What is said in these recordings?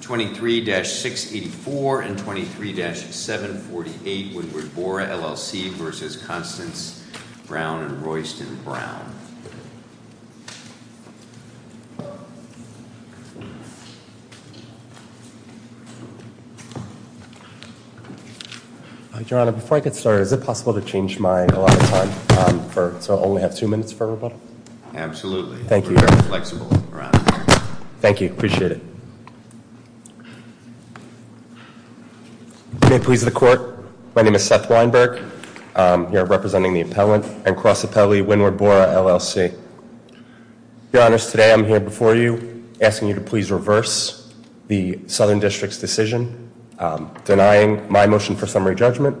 23-684 and 23-748 Woodward Bora LLC v. Constance Browne and Royston Browne. Your Honor, before I get started, is it possible to change mine a lot of time so I only have two minutes for rebuttal? Absolutely. Thank you. Thank you, appreciate it. May it please the court, my name is Seth Weinberg, here representing the appellant and cross appellee, Windward Bora LLC. Your Honor, today I'm here before you asking you to please reverse the Southern District's decision denying my motion for summary judgment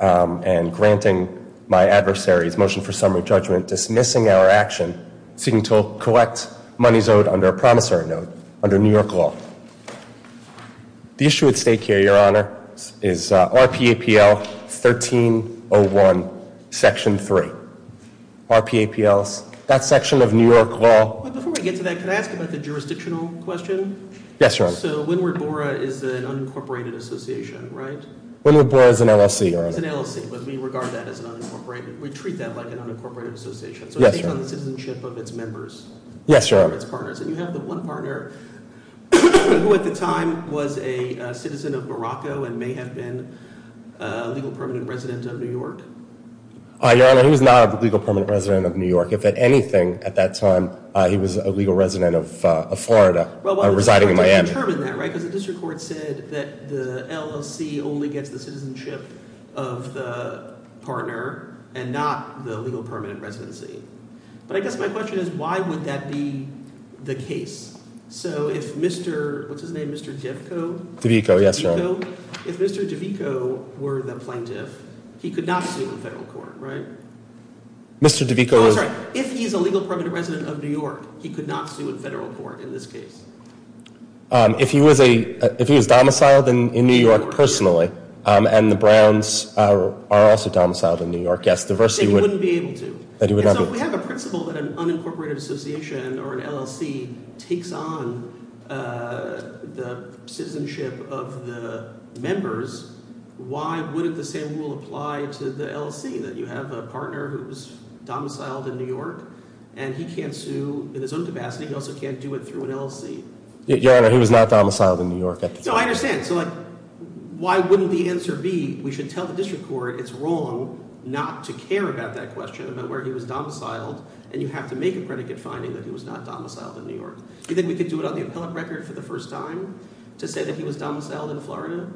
and granting my adversary's motion for summary judgment dismissing our action seeking to collect monies owed under a promissory note under New York law. The issue at stake here, Your Honor, is RPAPL 1301 section 3. RPAPL, that section of New York law. Before we get to that, can I ask about the jurisdictional question? Yes, Your Honor. So, Windward Bora is an unincorporated association, right? Windward Bora is an LLC, Your Honor. It's an LLC, but we regard that as an unincorporated, we treat that like an unincorporated association. Yes, Your Honor. So it's based on the citizenship of its members. Yes, Your Honor. Its partners. And you have the one partner who at the time was a citizen of Morocco and may have been a legal permanent resident of New York. Your Honor, he was not a legal permanent resident of New York. If at anything, at that time, he was a legal resident of Florida residing in Miami. Well, why would the court determine that, right? Because the District Court said that the LLC only gets the citizenship of the partner, and not the legal permanent residency. But I guess my question is, why would that be the case? So if Mr., what's his name, Mr. DeVico? DeVico, yes, Your Honor. If Mr. DeVico were the plaintiff, he could not sue in federal court, right? Mr. DeVico is... No, I'm sorry. If he's a legal permanent resident of New York, he could not sue in federal court in this case. If he was a, if he was domiciled in New York personally, and the Browns are also domiciled in New York, yes, the versus... He wouldn't be able to. And so if we have a principle that an unincorporated association or an LLC takes on the citizenship of the members, why wouldn't the same rule apply to the LLC? That you have a partner who's domiciled in New York, and he can't sue in his own capacity. He also can't do it through an LLC. Your Honor, he was not domiciled in New York at the time. So I understand. So like, why wouldn't the answer be, we should tell the district court it's wrong not to care about that question about where he was domiciled, and you have to make a predicate finding that he was not domiciled in New York. Do you think we could do it on the appellate record for the first time to say that he was domiciled in Florida?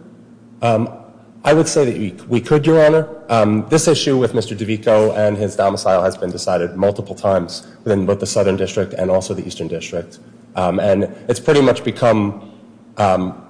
I would say that we could, Your Honor. This issue with Mr. DeVico and his domicile has been decided multiple times within both the Southern District and also the Eastern District. And it's pretty much become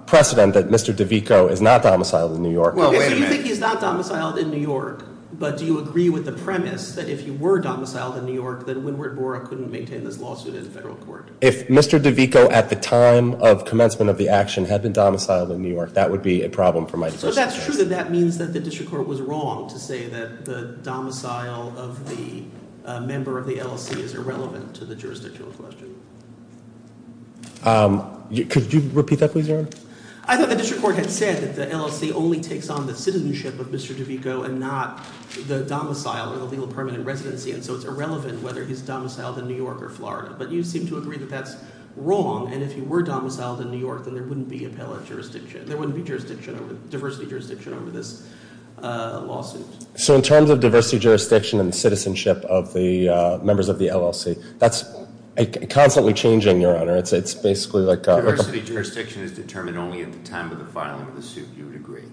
precedent that Mr. DeVico is not domiciled in New York. Well, wait a minute. So you think he's not domiciled in New York, but do you agree with the premise that if he were domiciled in New York, that Wynwood Borah couldn't maintain this lawsuit in the federal court? If Mr. DeVico at the time of commencement of the action had been domiciled in New York, that would be a problem for my defense. So that's true that that means that the district court was wrong to say that the domicile of the member of the LLC is irrelevant to the jurisdictal question. Could you repeat that please, Your Honor? I thought the district court had said that the LLC only takes on the citizenship of Mr. DeVico and not the domicile and the legal permanent residency. And so it's irrelevant whether he's domiciled in New York or Florida. But you seem to agree that that's wrong. And if he were domiciled in New York, then there wouldn't be appellate jurisdiction. There wouldn't be diversity jurisdiction over this lawsuit. So in terms of diversity jurisdiction and the citizenship of the members of the LLC, that's constantly changing, Your Honor. It's basically like- Diversity jurisdiction is determined only at the time of the filing of the suit, you would agree?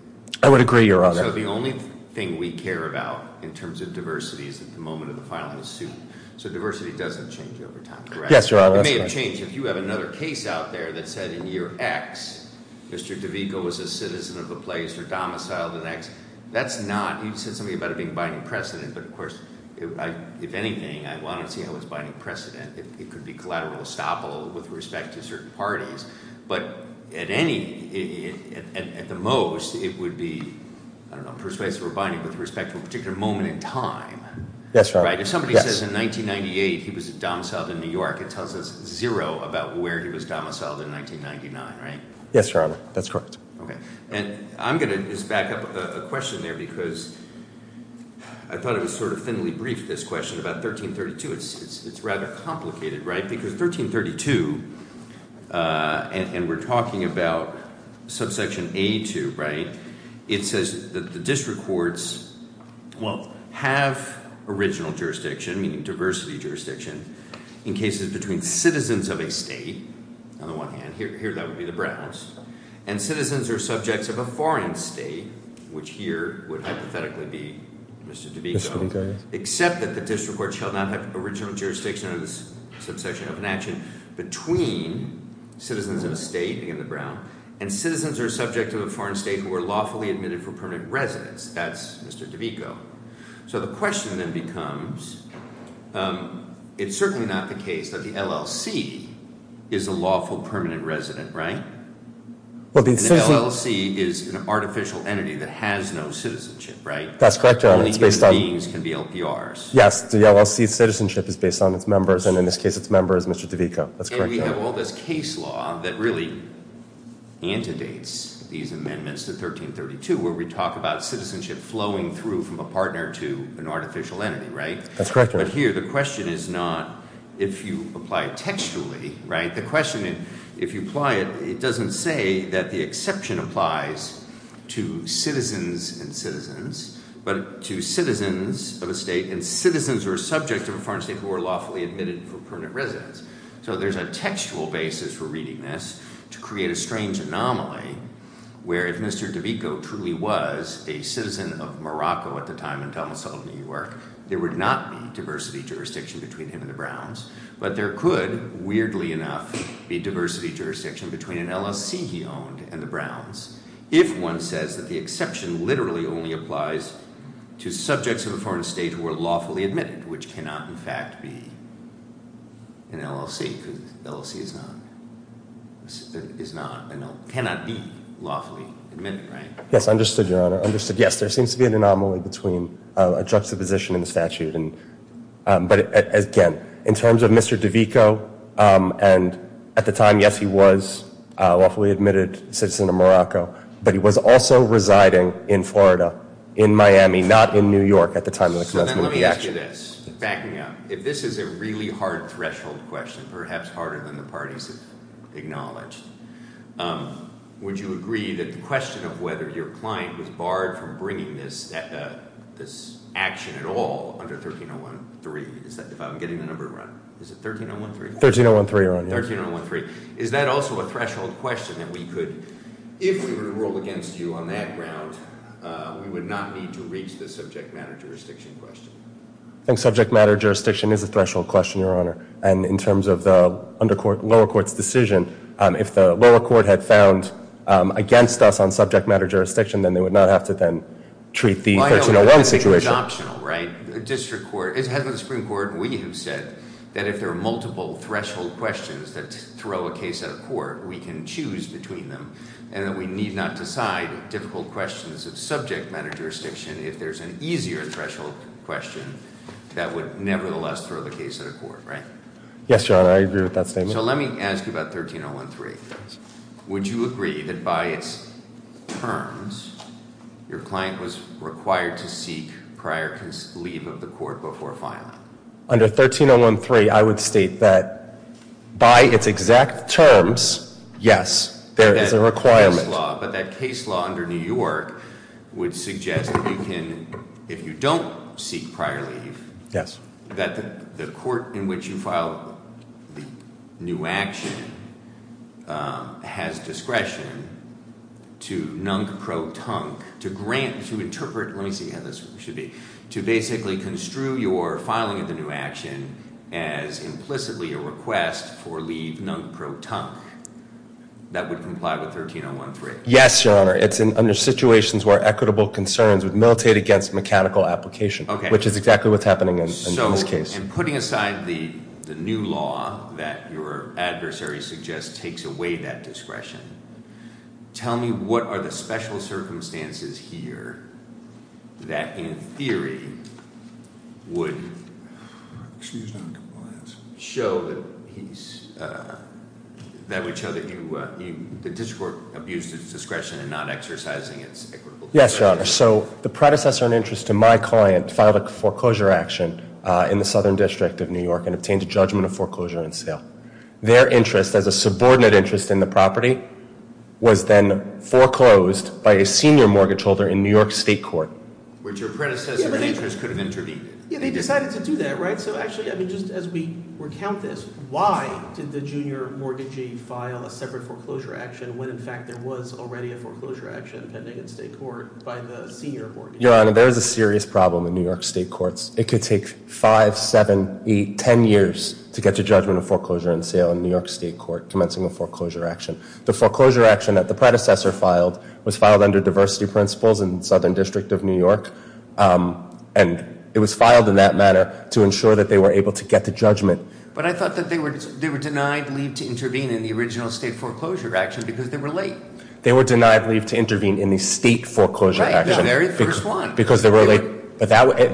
I would agree, Your Honor. So the only thing we care about in terms of diversity is at the moment of the filing of the suit. So diversity doesn't change over time, correct? Yes, Your Honor. It may have changed. If you have another case out there that said in year X, Mr. DeVico was a citizen of the place or domiciled in X. That's not, you said something about it being binding precedent. But, of course, if anything, I want to see how it's binding precedent. It could be collateral estoppel with respect to certain parties. But at the most, it would be persuasive or binding with respect to a particular moment in time. Yes, Your Honor. If somebody says in 1998 he was domiciled in New York, it tells us zero about where he was domiciled in 1999, right? Yes, Your Honor. That's correct. Okay. And I'm going to just back up a question there because I thought it was sort of thinly briefed, this question about 1332. It's rather complicated, right? Because 1332, and we're talking about subsection A2, right, it says that the district courts have original jurisdiction, meaning diversity jurisdiction, in cases between citizens of a state, on the one hand. Here that would be the Browns. And citizens are subjects of a foreign state, which here would hypothetically be Mr. DeVico. Except that the district court shall not have original jurisdiction under this subsection of an action between citizens of a state, again the Browns, and citizens are subject to a foreign state who are lawfully admitted for permanent residence. That's Mr. DeVico. So the question then becomes, it's certainly not the case that the LLC is a lawful permanent resident, right? The LLC is an artificial entity that has no citizenship, right? That's correct, Your Honor. Only human beings can be LPRs. Yes, the LLC's citizenship is based on its members, and in this case its member is Mr. DeVico. And we have all this case law that really antedates these amendments to 1332, where we talk about citizenship flowing through from a partner to an artificial entity, right? That's correct, Your Honor. But here the question is not if you apply it textually, right? The question, if you apply it, it doesn't say that the exception applies to citizens and citizens, but to citizens of a state. So there's a textual basis for reading this to create a strange anomaly where if Mr. DeVico truly was a citizen of Morocco at the time and Donald Sullivan New York, there would not be diversity jurisdiction between him and the Browns. But there could, weirdly enough, be diversity jurisdiction between an LLC he owned and the Browns if one says that the exception literally only applies to subjects of a foreign state who are lawfully admitted, which cannot, in fact, be an LLC. Because an LLC cannot be lawfully admitted, right? Yes, understood, Your Honor. Yes, there seems to be an anomaly between a juxtaposition in the statute. But again, in terms of Mr. DeVico, and at the time, yes, he was a lawfully admitted citizen of Morocco, but he was also residing in Florida, in Miami, not in New York at the time of the commencement of the action. So then let me ask you this. Back me up. If this is a really hard threshold question, perhaps harder than the parties have acknowledged, would you agree that the question of whether your client was barred from bringing this action at all under 13013, if I'm getting the number right? Is it 13013? 13013, Your Honor. 13013. Is that also a threshold question that we could, if we were to rule against you on that ground, we would not need to reach the subject matter jurisdiction question? I think subject matter jurisdiction is a threshold question, Your Honor. And in terms of the lower court's decision, if the lower court had found against us on subject matter jurisdiction, then they would not have to then treat the 1301 situation. I don't think it's optional, right? As head of the Supreme Court, we have said that if there are multiple threshold questions that throw a case at a court, we can choose between them, and that we need not decide difficult questions of subject matter jurisdiction if there's an easier threshold question that would nevertheless throw the case at a court, right? Yes, Your Honor. I agree with that statement. So let me ask you about 13013. Would you agree that by its terms, your client was required to seek prior leave of the court before filing? Under 13013, I would state that by its exact terms, yes, there is a requirement. But that case law under New York would suggest that you can, if you don't seek prior leave, Yes. That the court in which you file the new action has discretion to nunk, pro-tunk, to grant, to interpret, let me see how this should be, to basically construe your filing of the new action as implicitly a request for leave nunk, pro-tunk, that would comply with 13013. Yes, Your Honor. It's under situations where equitable concerns would militate against mechanical application. Okay. Which is exactly what's happening in this case. So in putting aside the new law that your adversary suggests takes away that discretion, tell me what are the special circumstances here that in theory would Excuse me. Show that he's, that would show that you, the district court abused its discretion in not exercising its equitable Yes, Your Honor. So the predecessor in interest to my client filed a foreclosure action in the Southern District of New York and obtained a judgment of foreclosure and sale. Their interest as a subordinate interest in the property was then foreclosed by a senior mortgage holder in New York State Court. Which your predecessor in interest could have intervened. Yeah, they decided to do that, right? So actually, I mean, just as we recount this, why did the junior mortgagee file a separate foreclosure action when in fact there was already a foreclosure action pending in state court by the senior mortgagee? Your Honor, there is a serious problem in New York State Courts. It could take five, seven, eight, ten years to get to judgment of foreclosure and sale in New York State Court commencing a foreclosure action. The foreclosure action that the predecessor filed was filed under diversity principles in Southern District of New York. And it was filed in that manner to ensure that they were able to get to judgment. But I thought that they were denied leave to intervene in the original state foreclosure action because they were late. They were denied leave to intervene in the state foreclosure action. Right, the very first one. Because they were late.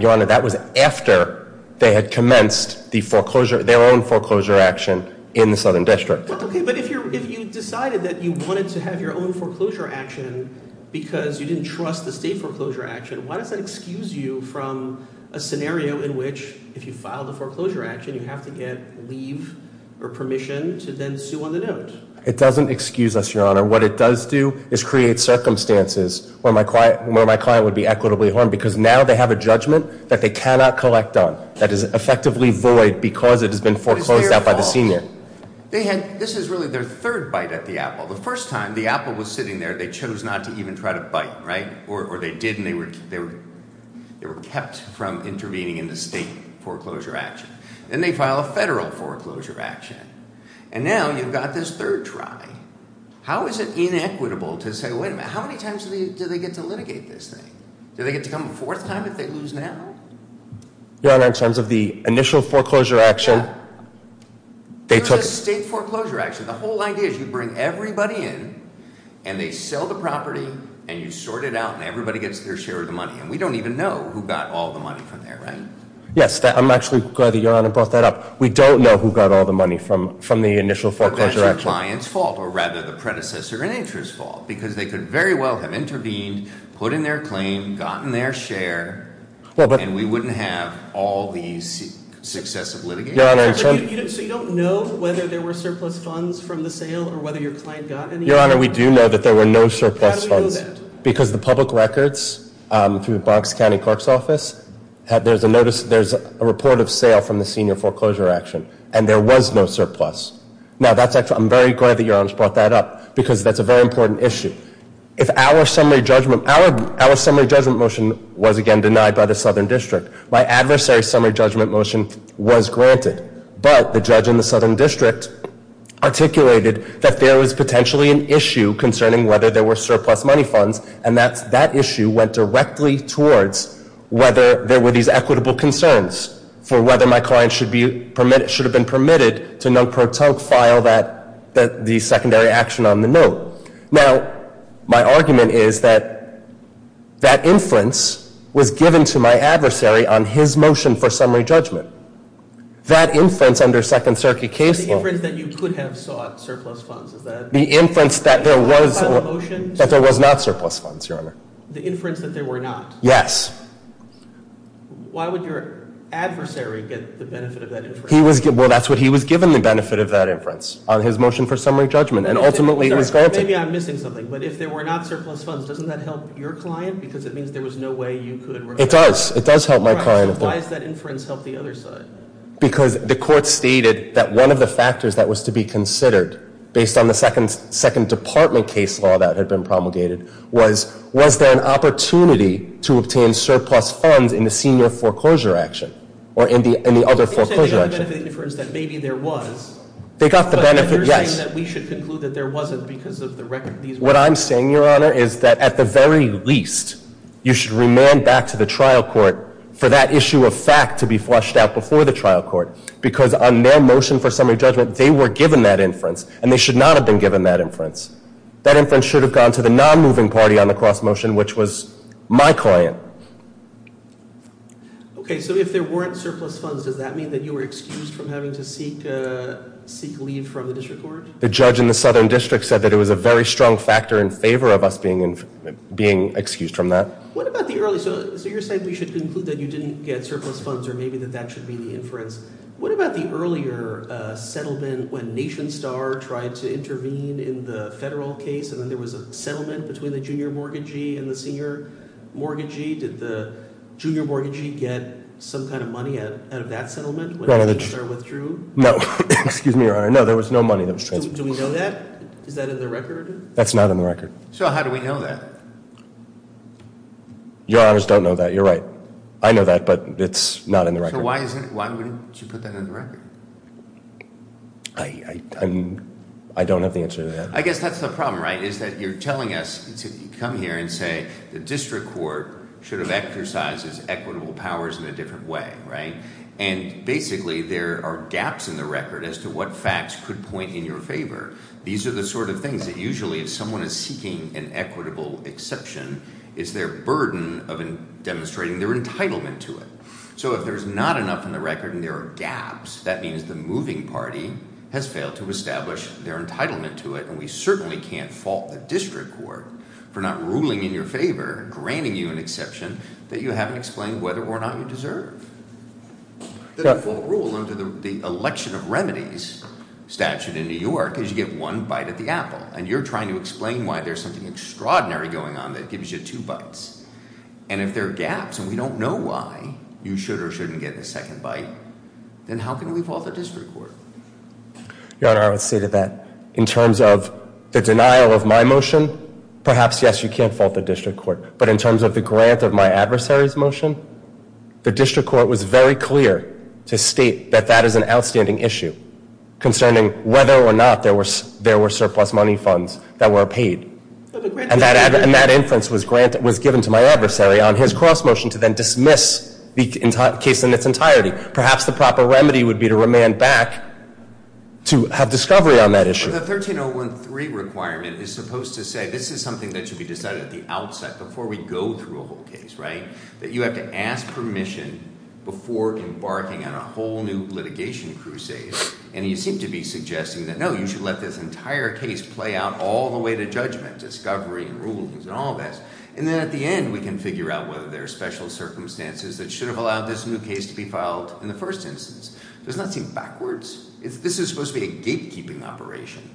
Your Honor, that was after they had commenced their own foreclosure action in the Southern District. Okay, but if you decided that you wanted to have your own foreclosure action because you didn't trust the state foreclosure action, why does that excuse you from a scenario in which if you filed a foreclosure action, you have to get leave or permission to then sue on the note? It doesn't excuse us, Your Honor. What it does do is create circumstances where my client would be equitably harmed because now they have a judgment that they cannot collect on, that is effectively void because it has been foreclosed out by the senior. This is really their third bite at the apple. The first time the apple was sitting there, they chose not to even try to bite, right? Or they did and they were kept from intervening in the state foreclosure action. Then they file a federal foreclosure action. And now you've got this third try. How is it inequitable to say, wait a minute, how many times do they get to litigate this thing? Do they get to come a fourth time if they lose now? Your Honor, in terms of the initial foreclosure action, they took- There's a state foreclosure action. The whole idea is you bring everybody in and they sell the property and you sort it out and everybody gets their share of the money. And we don't even know who got all the money from there, right? Yes, I'm actually glad that Your Honor brought that up. We don't know who got all the money from the initial foreclosure action. But that's your client's fault or rather the predecessor in interest's fault because they could very well have intervened, put in their claim, gotten their share. And we wouldn't have all the success of litigation. Your Honor- So you don't know whether there were surplus funds from the sale or whether your client got any? Your Honor, we do know that there were no surplus funds. How do we know that? Because the public records through the Bronx County Clerk's Office, there's a notice, there's a report of sale from the senior foreclosure action. And there was no surplus. Now that's actually- I'm very glad that Your Honor brought that up because that's a very important issue. If our summary judgment- our summary judgment motion was, again, denied by the Southern District. My adversary's summary judgment motion was granted. But the judge in the Southern District articulated that there was potentially an issue concerning whether there were surplus money funds. And that issue went directly towards whether there were these equitable concerns for whether my client should have been permitted to non-pro-tunk file the secondary action on the note. Now, my argument is that that inference was given to my adversary on his motion for summary judgment. That inference under Second Circuit case law- The inference that you could have sought surplus funds, is that- The inference that there was not surplus funds, Your Honor. The inference that there were not. Yes. Why would your adversary get the benefit of that inference? Well, that's what he was given, the benefit of that inference on his motion for summary judgment. And ultimately, he was granted. Maybe I'm missing something. But if there were not surplus funds, doesn't that help your client? Because it means there was no way you could- It does. It does help my client. All right. So why does that inference help the other side? Because the court stated that one of the factors that was to be considered, based on the Second Department case law that had been promulgated, was, was there an opportunity to obtain surplus funds in the senior foreclosure action or in the other foreclosure action? You're saying they got the benefit of the inference that maybe there was. They got the benefit, yes. But you're saying that we should conclude that there wasn't because of the record of these- What I'm saying, Your Honor, is that at the very least, you should remand back to the trial court for that issue of fact to be flushed out before the trial court. Because on their motion for summary judgment, they were given that inference. And they should not have been given that inference. That inference should have gone to the non-moving party on the cross motion, which was my client. Okay. So if there weren't surplus funds, does that mean that you were excused from having to seek, seek leave from the district court? The judge in the Southern District said that it was a very strong factor in favor of us being, being excused from that. What about the early, so you're saying we should conclude that you didn't get surplus funds or maybe that that should be the inference. What about the earlier settlement when NationStar tried to intervene in the federal case and then there was a settlement between the junior mortgagee and the senior mortgagee? Did the junior mortgagee get some kind of money out of that settlement when NationStar withdrew? Excuse me, Your Honor. No, there was no money that was transferred. Do we know that? Is that in the record? That's not in the record. So how do we know that? Your Honors don't know that. You're right. I know that, but it's not in the record. So why wouldn't you put that in the record? I don't have the answer to that. I guess that's the problem, right, is that you're telling us to come here and say the district court should have exercised its equitable powers in a different way, right? And basically there are gaps in the record as to what facts could point in your favor. These are the sort of things that usually if someone is seeking an equitable exception, it's their burden of demonstrating their entitlement to it. So if there's not enough in the record and there are gaps, that means the moving party has failed to establish their entitlement to it. And we certainly can't fault the district court for not ruling in your favor, granting you an exception that you haven't explained whether or not you deserve. The default rule under the election of remedies statute in New York is you give one bite at the apple. And you're trying to explain why there's something extraordinary going on that gives you two bites. And if there are gaps and we don't know why you should or shouldn't get the second bite, then how can we fault the district court? Your Honor, I would say that in terms of the denial of my motion, perhaps, yes, you can't fault the district court. But in terms of the grant of my adversary's motion, the district court was very clear to state that that is an outstanding issue concerning whether or not there were surplus money funds that were paid. And that inference was given to my adversary on his cross motion to then dismiss the case in its entirety. Perhaps the proper remedy would be to remand back to have discovery on that issue. But the 13013 requirement is supposed to say this is something that should be decided at the outset, before we go through a whole case, right? That you have to ask permission before embarking on a whole new litigation crusade. And you seem to be suggesting that, no, you should let this entire case play out all the way to judgment, discovery, rulings, and all of that. And then at the end, we can figure out whether there are special circumstances that should have allowed this new case to be filed in the first instance. It does not seem backwards. This is supposed to be a gatekeeping operation.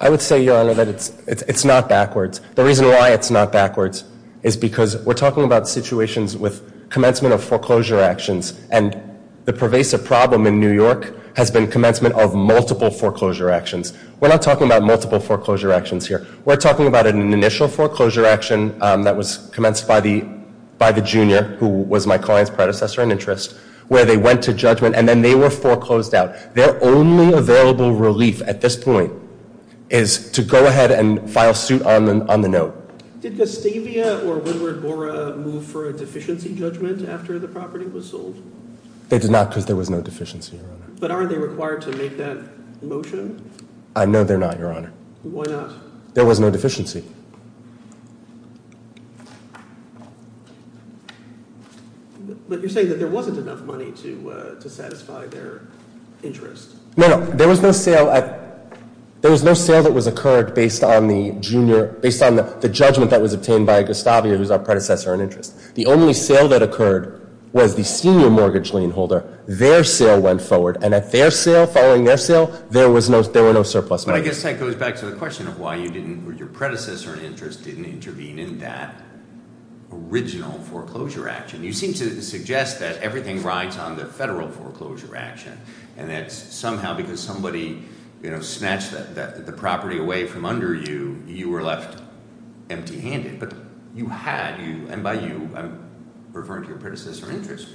I would say, Your Honor, that it's not backwards. The reason why it's not backwards is because we're talking about situations with commencement of foreclosure actions. And the pervasive problem in New York has been commencement of multiple foreclosure actions. We're not talking about multiple foreclosure actions here. We're talking about an initial foreclosure action that was commenced by the junior, who was my client's predecessor in interest, where they went to judgment. And then they were foreclosed out. Their only available relief at this point is to go ahead and file suit on the note. Did Gustavia or Woodward-Bora move for a deficiency judgment after the property was sold? They did not because there was no deficiency, Your Honor. But aren't they required to make that motion? I know they're not, Your Honor. Why not? There was no deficiency. But you're saying that there wasn't enough money to satisfy their interest. No, no. There was no sale that was occurred based on the judgment that was obtained by Gustavia, who was our predecessor in interest. The only sale that occurred was the senior mortgage lien holder. Their sale went forward. And at their sale, following their sale, there were no surplus money. But I guess that goes back to the question of why you didn't or your predecessor in interest didn't intervene in that original foreclosure action. You seem to suggest that everything rides on the federal foreclosure action and that somehow because somebody snatched the property away from under you, you were left empty-handed. But you had. And by you, I'm referring to your predecessor in interest,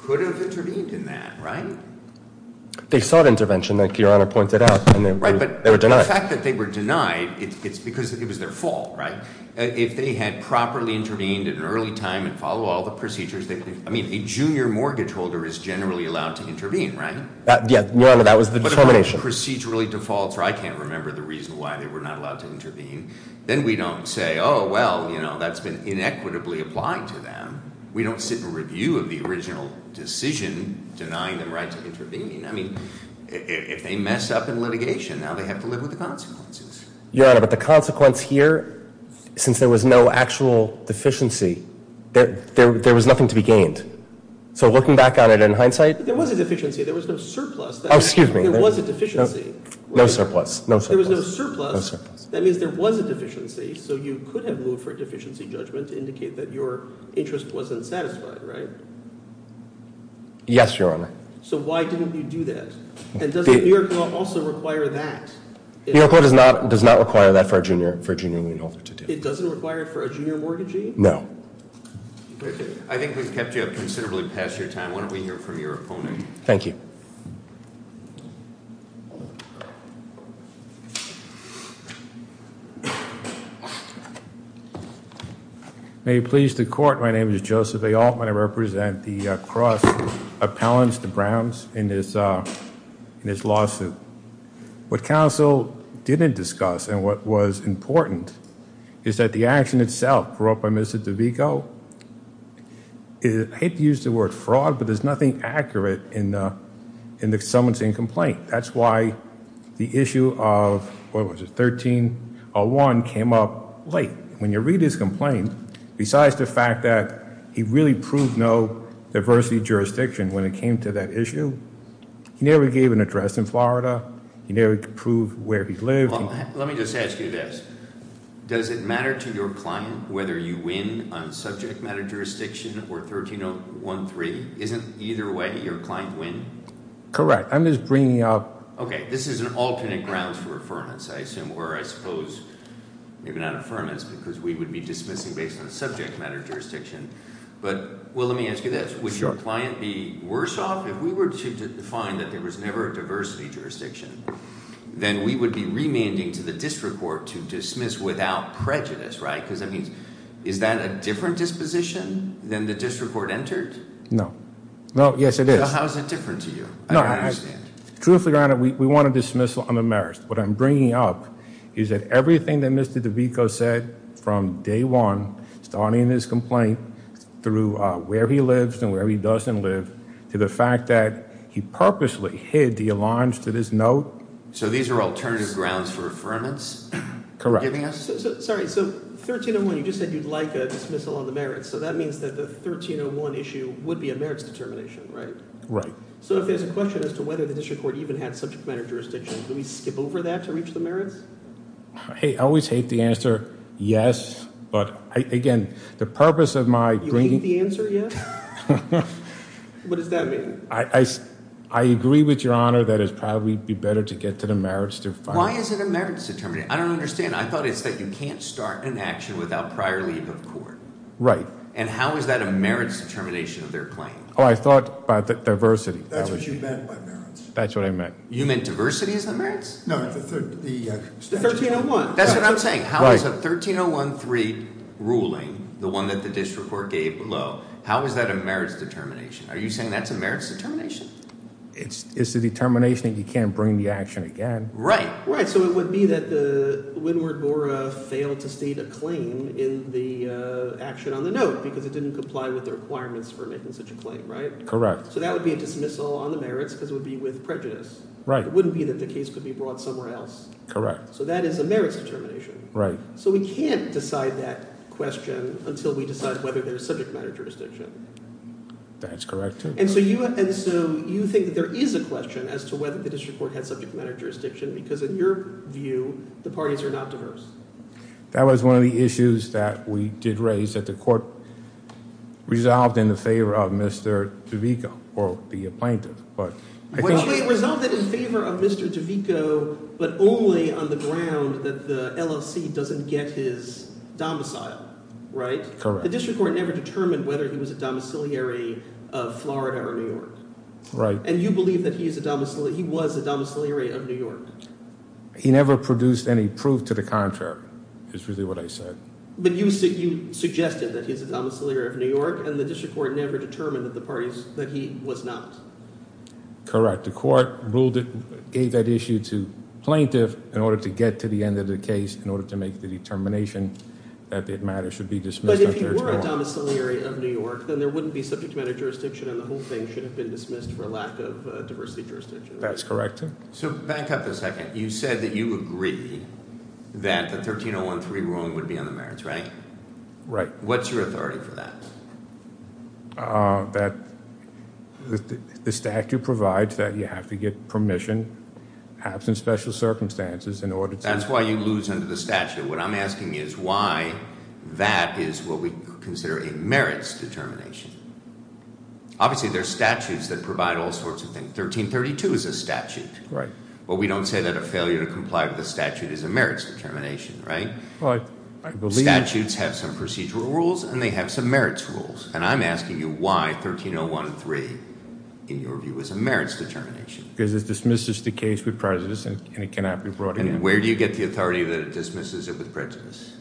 could have intervened in that, right? They sought intervention, like Your Honor pointed out, and they were denied. Right, but the fact that they were denied, it's because it was their fault, right? If they had properly intervened at an early time and followed all the procedures, I mean, a junior mortgage holder is generally allowed to intervene, right? Yeah, Your Honor, that was the determination. But if one procedurally defaults, or I can't remember the reason why they were not allowed to intervene, then we don't say, oh, well, you know, that's been inequitably applied to them. We don't sit and review of the original decision denying them right to intervene. I mean, if they mess up in litigation, now they have to live with the consequences. Your Honor, but the consequence here, since there was no actual deficiency, there was nothing to be gained. So looking back on it in hindsight. There was a deficiency. There was no surplus. Oh, excuse me. There was a deficiency. No surplus, no surplus. There was no surplus. No surplus. That means there was a deficiency, so you could have moved for a deficiency judgment to indicate that your interest wasn't satisfied, right? Yes, Your Honor. So why didn't you do that? And does the New York law also require that? New York law does not require that for a junior lien holder to do that. It doesn't require it for a junior mortgagee? No. I think we've kept you up considerably past your time. Why don't we hear from your opponent? Thank you. May it please the court, my name is Joseph A. Altman. I represent the cross appellants, the Browns, in this lawsuit. What counsel didn't discuss and what was important is that the action itself brought by Mr. DeVico, I hate to use the word fraud, but there's nothing accurate in the summonsing complaint. That's why the issue of, what was it, 1301 came up late. When you read his complaint, besides the fact that he really proved no diversity jurisdiction when it came to that issue, he never gave an address in Florida, he never proved where he lived. Let me just ask you this. Does it matter to your client whether you win on subject matter jurisdiction or 13013? Isn't either way your client win? Correct. This is an alternate ground for affirmance, I assume, or I suppose maybe not affirmance because we would be dismissing based on subject matter jurisdiction. Let me ask you this. Would your client be worse off if we were to find that there was never a diversity jurisdiction? Then we would be remanding to the district court to dismiss without prejudice. Is that a different disposition than the district court entered? No. Yes, it is. How is it different to you? I don't understand. Truth be granted, we want a dismissal on the merits. What I'm bringing up is that everything that Mr. DeVico said from day one, starting in his complaint, through where he lives and where he doesn't live, to the fact that he purposely hid the alliance to this note. So these are alternative grounds for affirmance? Correct. Sorry, so 1301, you just said you'd like a dismissal on the merits, so that means that the 1301 issue would be a merits determination, right? Right. So if there's a question as to whether the district court even had subject matter jurisdiction, do we skip over that to reach the merits? I always hate the answer yes, but, again, the purpose of my bringing— You hate the answer yes? What does that mean? I agree with your Honor that it would probably be better to get to the merits to find— Why is it a merits determination? I don't understand. I thought it's that you can't start an action without prior leave of court. Right. And how is that a merits determination of their claim? Oh, I thought about the diversity. That's what you meant by merits. That's what I meant. You meant diversity is the merits? No, the statute. The 1301. That's what I'm saying. How is a 1301.3 ruling, the one that the district court gave below, how is that a merits determination? Are you saying that's a merits determination? It's the determination that you can't bring the action again. Right. Right. So it would be that the windward mora failed to state a claim in the action on the note because it didn't comply with the requirements for making such a claim, right? Correct. So that would be a dismissal on the merits because it would be with prejudice. Right. It wouldn't be that the case could be brought somewhere else. Correct. So that is a merits determination. Right. So we can't decide that question until we decide whether there's subject matter jurisdiction. That's correct. And so you think that there is a question as to whether the district court had subject matter jurisdiction because in your view, the parties are not diverse. That was one of the issues that we did raise that the court resolved in the favor of Mr. DeVico or the plaintiff. Well, they resolved it in favor of Mr. DeVico but only on the ground that the LLC doesn't get his domicile, right? Correct. The district court never determined whether he was a domiciliary of Florida or New York. Right. And you believe that he was a domiciliary of New York. He never produced any proof to the contrary is really what I said. But you suggested that he's a domiciliary of New York and the district court never determined that he was not. Correct. The court gave that issue to plaintiff in order to get to the end of the case in order to make the determination that the matter should be dismissed on 1301. But if he were a domiciliary of New York, then there wouldn't be subject matter jurisdiction and the whole thing should have been dismissed for a lack of diversity jurisdiction. That's correct. So back up a second. You said that you agree that the 13013 ruling would be on the merits, right? Right. What's your authority for that? That the statute provides that you have to get permission, perhaps in special circumstances, in order to- That's why you lose under the statute. What I'm asking is why that is what we consider a merits determination. Obviously, there are statutes that provide all sorts of things. 1332 is a statute. Right. But we don't say that a failure to comply with a statute is a merits determination, right? Well, I believe- Statutes have some procedural rules and they have some merits rules. And I'm asking you why 13013, in your view, is a merits determination. Because it dismisses the case with prejudice and it cannot be brought again. Where do you get the authority that it dismisses it with prejudice?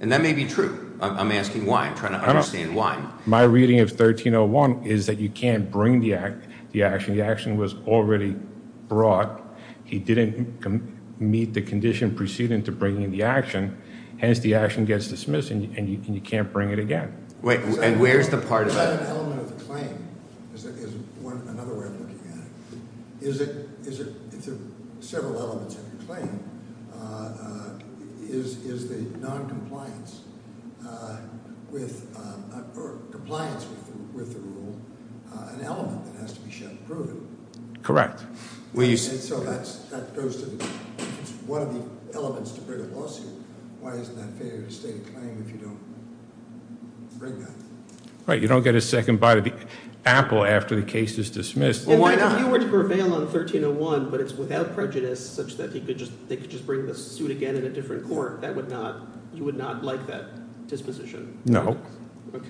And that may be true. I'm asking why. I'm trying to understand why. My reading of 1301 is that you can't bring the action. The action was already brought. He didn't meet the condition preceding to bringing the action. Hence, the action gets dismissed and you can't bring it again. And where's the part of that? Is that an element of the claim? Is that another way of looking at it? If there are several elements of your claim, is the noncompliance with the rule an element that has to be shown to prove it? Correct. And so that goes to one of the elements to bring a lawsuit. Why isn't that a failure to state a claim if you don't bring that? Right. You don't get a second bite of the apple after the case is dismissed. Well, why not? If you were to prevail on 1301, but it's without prejudice, such that they could just bring the suit again in a different court, you would not like that disposition? No. Okay.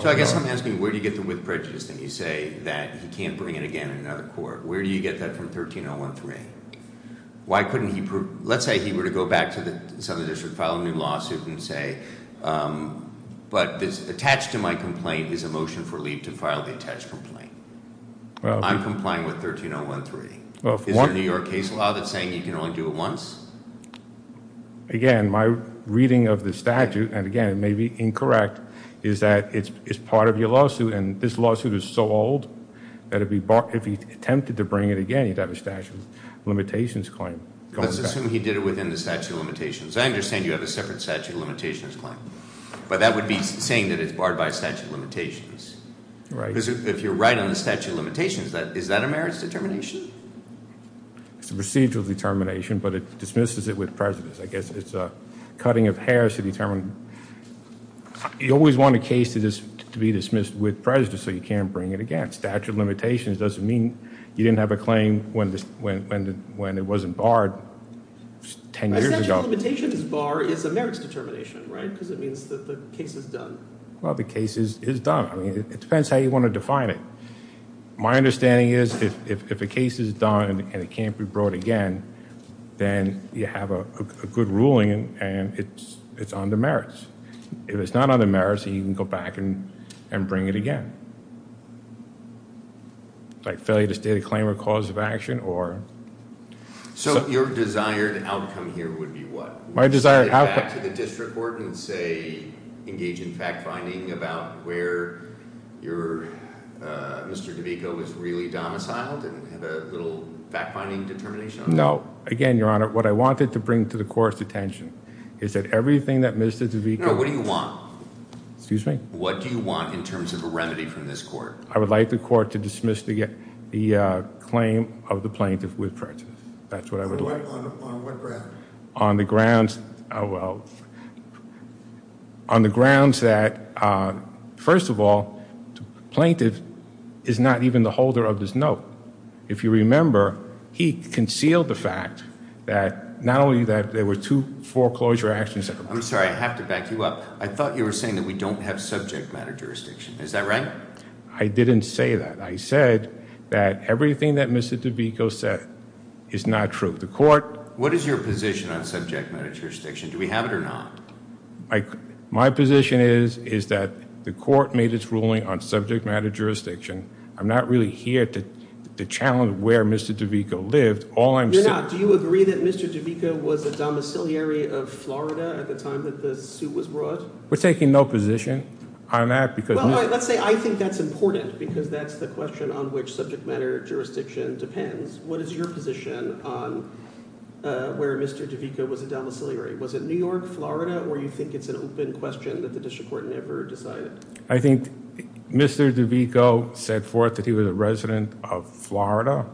So I guess I'm asking where do you get the with prejudice thing? You say that he can't bring it again in another court. Where do you get that from 1301.3? Let's say he were to go back to the Southern District, file a new lawsuit and say, but attached to my complaint is a motion for leave to file the attached complaint. I'm complying with 1301.3. Is there a New York case law that's saying you can only do it once? Again, my reading of the statute, and again, it may be incorrect, is that it's part of your lawsuit, and this lawsuit is so old that if he attempted to bring it again, he'd have a statute of limitations claim. Let's assume he did it within the statute of limitations. I understand you have a separate statute of limitations claim, but that would be saying that it's barred by statute of limitations. Right. If you're right on the statute of limitations, is that a merits determination? It's a procedural determination, but it dismisses it with prejudice. I guess it's a cutting of hairs to determine. You always want a case to be dismissed with prejudice so you can't bring it again. Statute of limitations doesn't mean you didn't have a claim when it wasn't barred 10 years ago. A statute of limitations bar is a merits determination, right? Because it means that the case is done. Well, the case is done. It depends how you want to define it. My understanding is if a case is done and it can't be brought again, then you have a good ruling and it's on the merits. If it's not on the merits, then you can go back and bring it again, like failure to state a claim or cause of action or... Your desired outcome here would be what? My desired outcome... Mr. DeVito was really domiciled and had a little fact-finding determination? No. Again, Your Honor, what I wanted to bring to the court's attention is that everything that Mr. DeVito... No. What do you want? Excuse me? What do you want in terms of a remedy from this court? I would like the court to dismiss the claim of the plaintiff with prejudice. That's what I would like. On what grounds? Well, on the grounds that, first of all, the plaintiff is not even the holder of this note. If you remember, he concealed the fact that not only that there were two foreclosure actions... I'm sorry. I have to back you up. I thought you were saying that we don't have subject matter jurisdiction. Is that right? I didn't say that. I said that everything that Mr. DeVito said is not true. What is your position on subject matter jurisdiction? Do we have it or not? My position is that the court made its ruling on subject matter jurisdiction. I'm not really here to challenge where Mr. DeVito lived. You're not. Do you agree that Mr. DeVito was a domiciliary of Florida at the time that the suit was brought? We're taking no position on that because... Well, let's say I think that's important because that's the question on which subject matter jurisdiction depends. What is your position on where Mr. DeVito was a domiciliary? Was it New York, Florida, or do you think it's an open question that the district court never decided? I think Mr. DeVito set forth that he was a resident of Florida.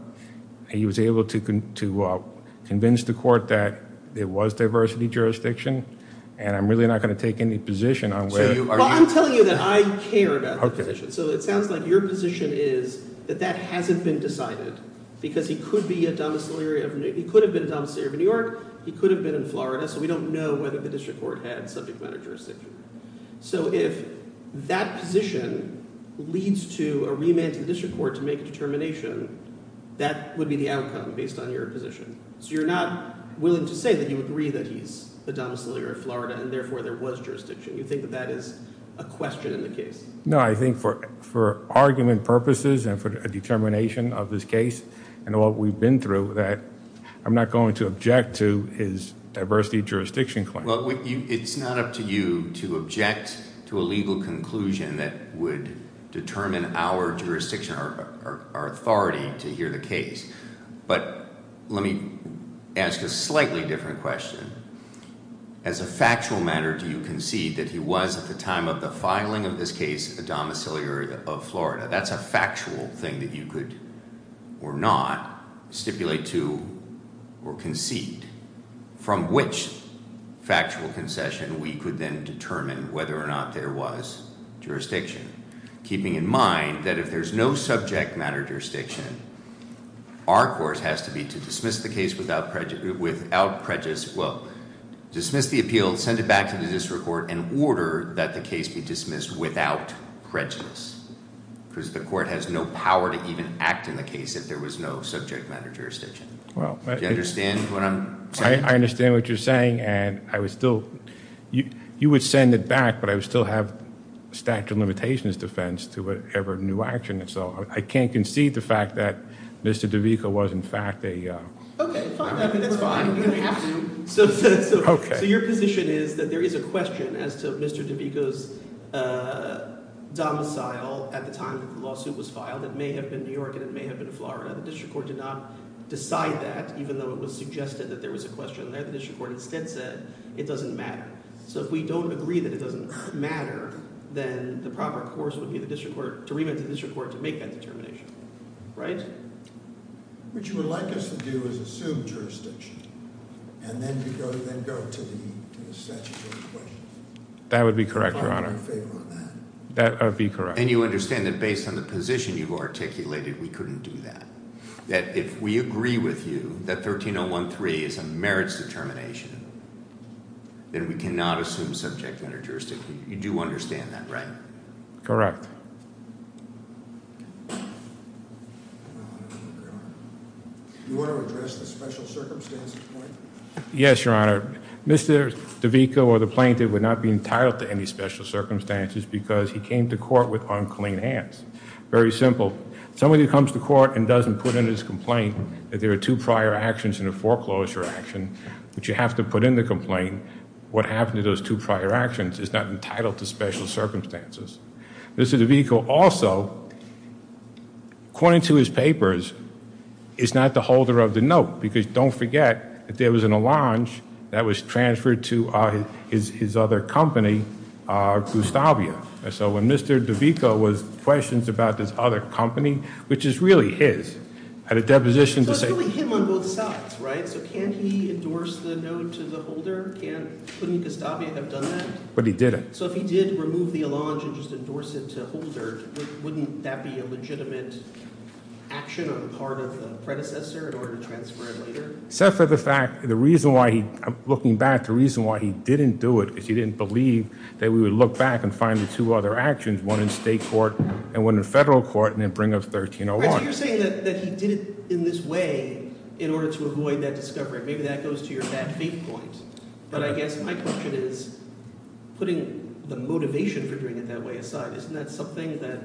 He was able to convince the court that there was diversity jurisdiction, and I'm really not going to take any position on where... I'm telling you that I care about the position. So it sounds like your position is that that hasn't been decided because he could be a domiciliary of New... He could have been a domiciliary of New York. He could have been in Florida. So we don't know whether the district court had subject matter jurisdiction. So if that position leads to a remand to the district court to make a determination, that would be the outcome based on your position. So you're not willing to say that you agree that he's a domiciliary of Florida and therefore there was jurisdiction. You think that that is a question in the case? No, I think for argument purposes and for a determination of this case and what we've been through that... I'm not going to object to his diversity jurisdiction claim. Well, it's not up to you to object to a legal conclusion that would determine our jurisdiction, our authority to hear the case. But, let me ask a slightly different question. As a factual matter, do you concede that he was at the time of the filing of this case, a domiciliary of Florida? That's a factual thing that you could or not stipulate to or concede. From which factual concession, we could then determine whether or not there was jurisdiction. Keeping in mind that if there's no subject matter jurisdiction, our course has to be to dismiss the case without prejudice. Well, dismiss the appeal, send it back to the district court and order that the case be dismissed without prejudice. Because the court has no power to even act in the case if there was no subject matter jurisdiction. Do you understand what I'm saying? I understand what you're saying and I would still... you would send it back, but I would still have statute of limitations defense to whatever new action. So, I can't concede the fact that Mr. DeVico was in fact a... Okay, fine. That's fine. So, your position is that there is a question as to Mr. DeVico's domicile at the time that the lawsuit was filed. It may have been New York and it may have been Florida. The district court did not decide that even though it was suggested that there was a question there. The district court instead said it doesn't matter. So, if we don't agree that it doesn't matter, then the proper course would be the district court... to remit the district court to make that determination, right? What you would like us to do is assume jurisdiction and then go to the statutory questions. That would be correct, Your Honor. If I'm in favor of that. That would be correct. And, you understand that based on the position you've articulated, we couldn't do that. That if we agree with you that 13013 is a merits determination, then we cannot assume subject matter jurisdiction. You do understand that, right? Correct. Do you want to address the special circumstances point? Yes, Your Honor. Mr. DeVico or the plaintiff would not be entitled to any special circumstances because he came to court with unclean hands. Very simple. Somebody comes to court and doesn't put in his complaint that there are two prior actions in a foreclosure action... that you have to put in the complaint. What happened to those two prior actions is not entitled to special circumstances. Mr. DeVico also, according to his papers, is not the holder of the note. Because, don't forget, there was an allonge that was transferred to his other company, Gustavia. So, when Mr. DeVico was questioned about this other company, which is really his, had a deposition to say... So, it's really him on both sides, right? So, can he endorse the note to the holder? Couldn't Gustavia have done that? But, he didn't. So, if he did remove the allonge and just endorse it to the holder, wouldn't that be a legitimate action on the part of the predecessor, in order to transfer it later? Except for the fact, the reason why he... looking back, the reason why he didn't do it... because he didn't believe that we would look back and find the two other actions... one in state court and one in federal court, and then bring up 1301. So, you're saying that he did it in this way, in order to avoid that discovery. Maybe that goes to your bad faith point. But, I guess my question is, putting the motivation for doing it that way aside... isn't that something that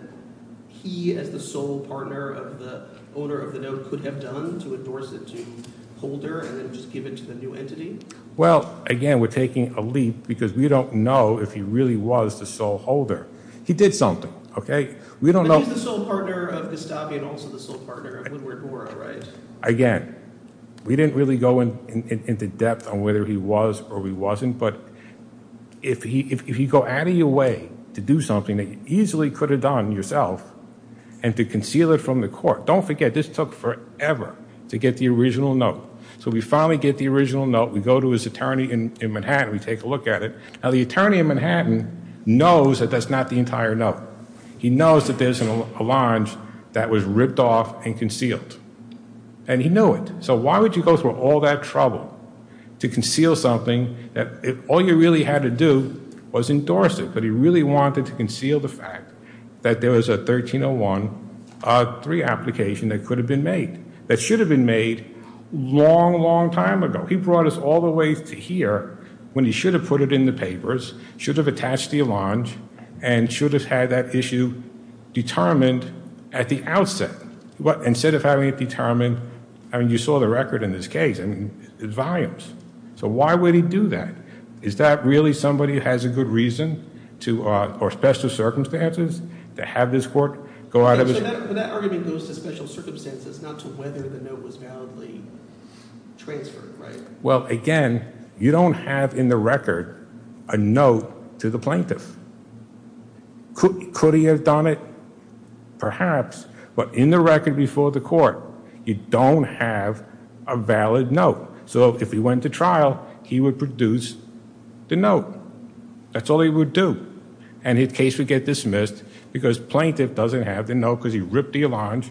he, as the sole partner of the owner of the note, could have done to endorse it to the holder, and then just give it to the new entity? Well, again, we're taking a leap, because we don't know if he really was the sole holder. He did something, okay? We don't know... But, he's the sole partner of Gustavia, and also the sole partner of Woodward-Rora, right? Again, we didn't really go into depth on whether he was or he wasn't. But, if you go out of your way to do something that you easily could have done yourself, and to conceal it from the court... Don't forget, this took forever to get the original note. So, we finally get the original note. We go to his attorney in Manhattan. We take a look at it. Now, the attorney in Manhattan knows that that's not the entire note. He knows that there's an allonge that was ripped off and concealed. And, he knew it. So, why would you go through all that trouble to conceal something that all you really had to do was endorse it. But, he really wanted to conceal the fact that there was a 1301.3 application that could have been made. That should have been made a long, long time ago. He brought us all the way to here, when he should have put it in the papers. Should have attached the allonge. And, should have had that issue determined at the outset. But, instead of having it determined... I mean, you saw the record in this case. I mean, it's volumes. So, why would he do that? Is that really somebody who has a good reason to... or special circumstances to have this court go out of his... So, that argument goes to special circumstances, not to whether the note was validly transferred, right? Well, again, you don't have in the record, a note to the plaintiff. Could he have done it? Perhaps. But, in the record before the court, you don't have a valid note. So, if he went to trial, he would produce the note. That's all he would do. And, his case would get dismissed, because plaintiff doesn't have the note, because he ripped the allonge.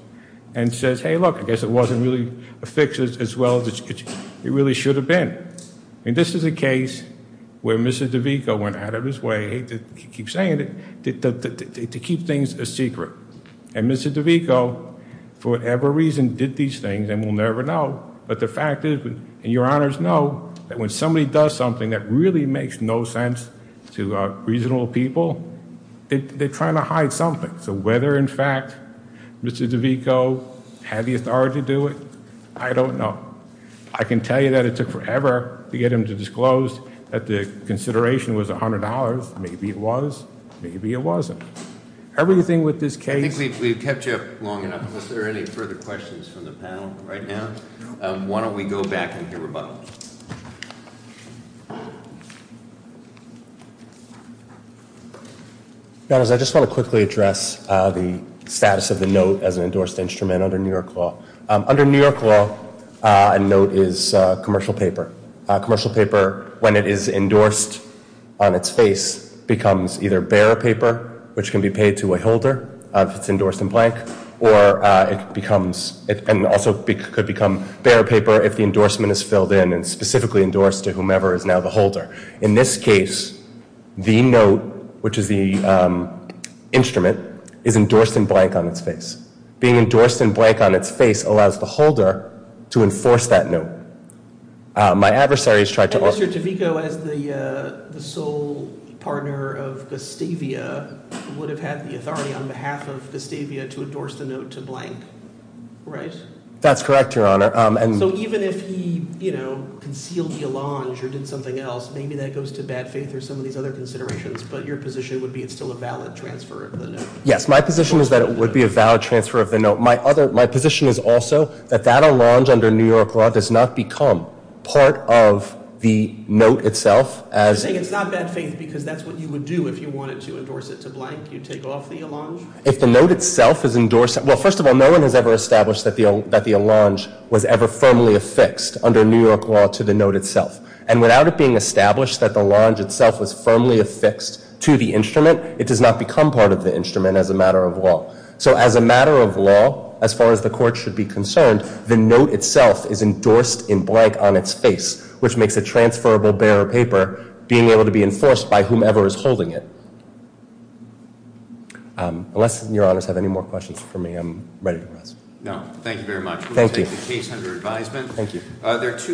And, says, hey, look, I guess it wasn't really a fix, as well as it really should have been. And, this is a case where Mr. DeVico went out of his way... I hate to keep saying it... to keep things a secret. And, Mr. DeVico, for whatever reason, did these things, and we'll never know. But, the fact is... And, your Honors know, that when somebody does something that really makes no sense to reasonable people... They're trying to hide something. So, whether in fact, Mr. DeVico had the authority to do it, I don't know. I can tell you that it took forever to get him to disclose that the consideration was $100. Maybe it was. Maybe it wasn't. Everything with this case... I think we've kept you up long enough. Are there any further questions from the panel, right now? Why don't we go back and hear from both. Your Honors, I just want to quickly address the status of the note as an endorsed instrument under New York law. Under New York law, a note is a commercial paper. A commercial paper, when it is endorsed on its face, becomes either bare paper... which can be paid to a holder, if it's endorsed in blank. Or, it becomes... and also could become bare paper, if the endorsement is filled in and specifically endorsed to whomever is now the holder. In this case, the note, which is the instrument, is endorsed in blank on its face. Being endorsed in blank on its face, allows the holder to enforce that note. Mr. Tavico, as the sole partner of Gustavia, would have had the authority on behalf of Gustavia to endorse the note to blank, right? That's correct, Your Honor. So, even if he concealed the allonge or did something else, maybe that goes to bad faith or some of these other considerations. But, your position would be it's still a valid transfer of the note. Yes, my position is that it would be a valid transfer of the note. My position is also that that allonge under New York law does not become part of the note itself. You're saying it's not bad faith because that's what you would do if you wanted to endorse it to blank. You'd take off the allonge? If the note itself is endorsed... Well, first of all, no one has ever established that the allonge was ever firmly affixed under New York law to the note itself. And, without it being established that the allonge itself was firmly affixed to the instrument, it does not become part of the instrument as a matter of law. So, as a matter of law, as far as the court should be concerned, the note itself is endorsed in blank on its face, which makes a transferable bearer paper being able to be enforced by whomever is holding it. Unless your honors have any more questions for me, I'm ready to go. No, thank you very much. Thank you. We'll take the case under advisement. Thank you.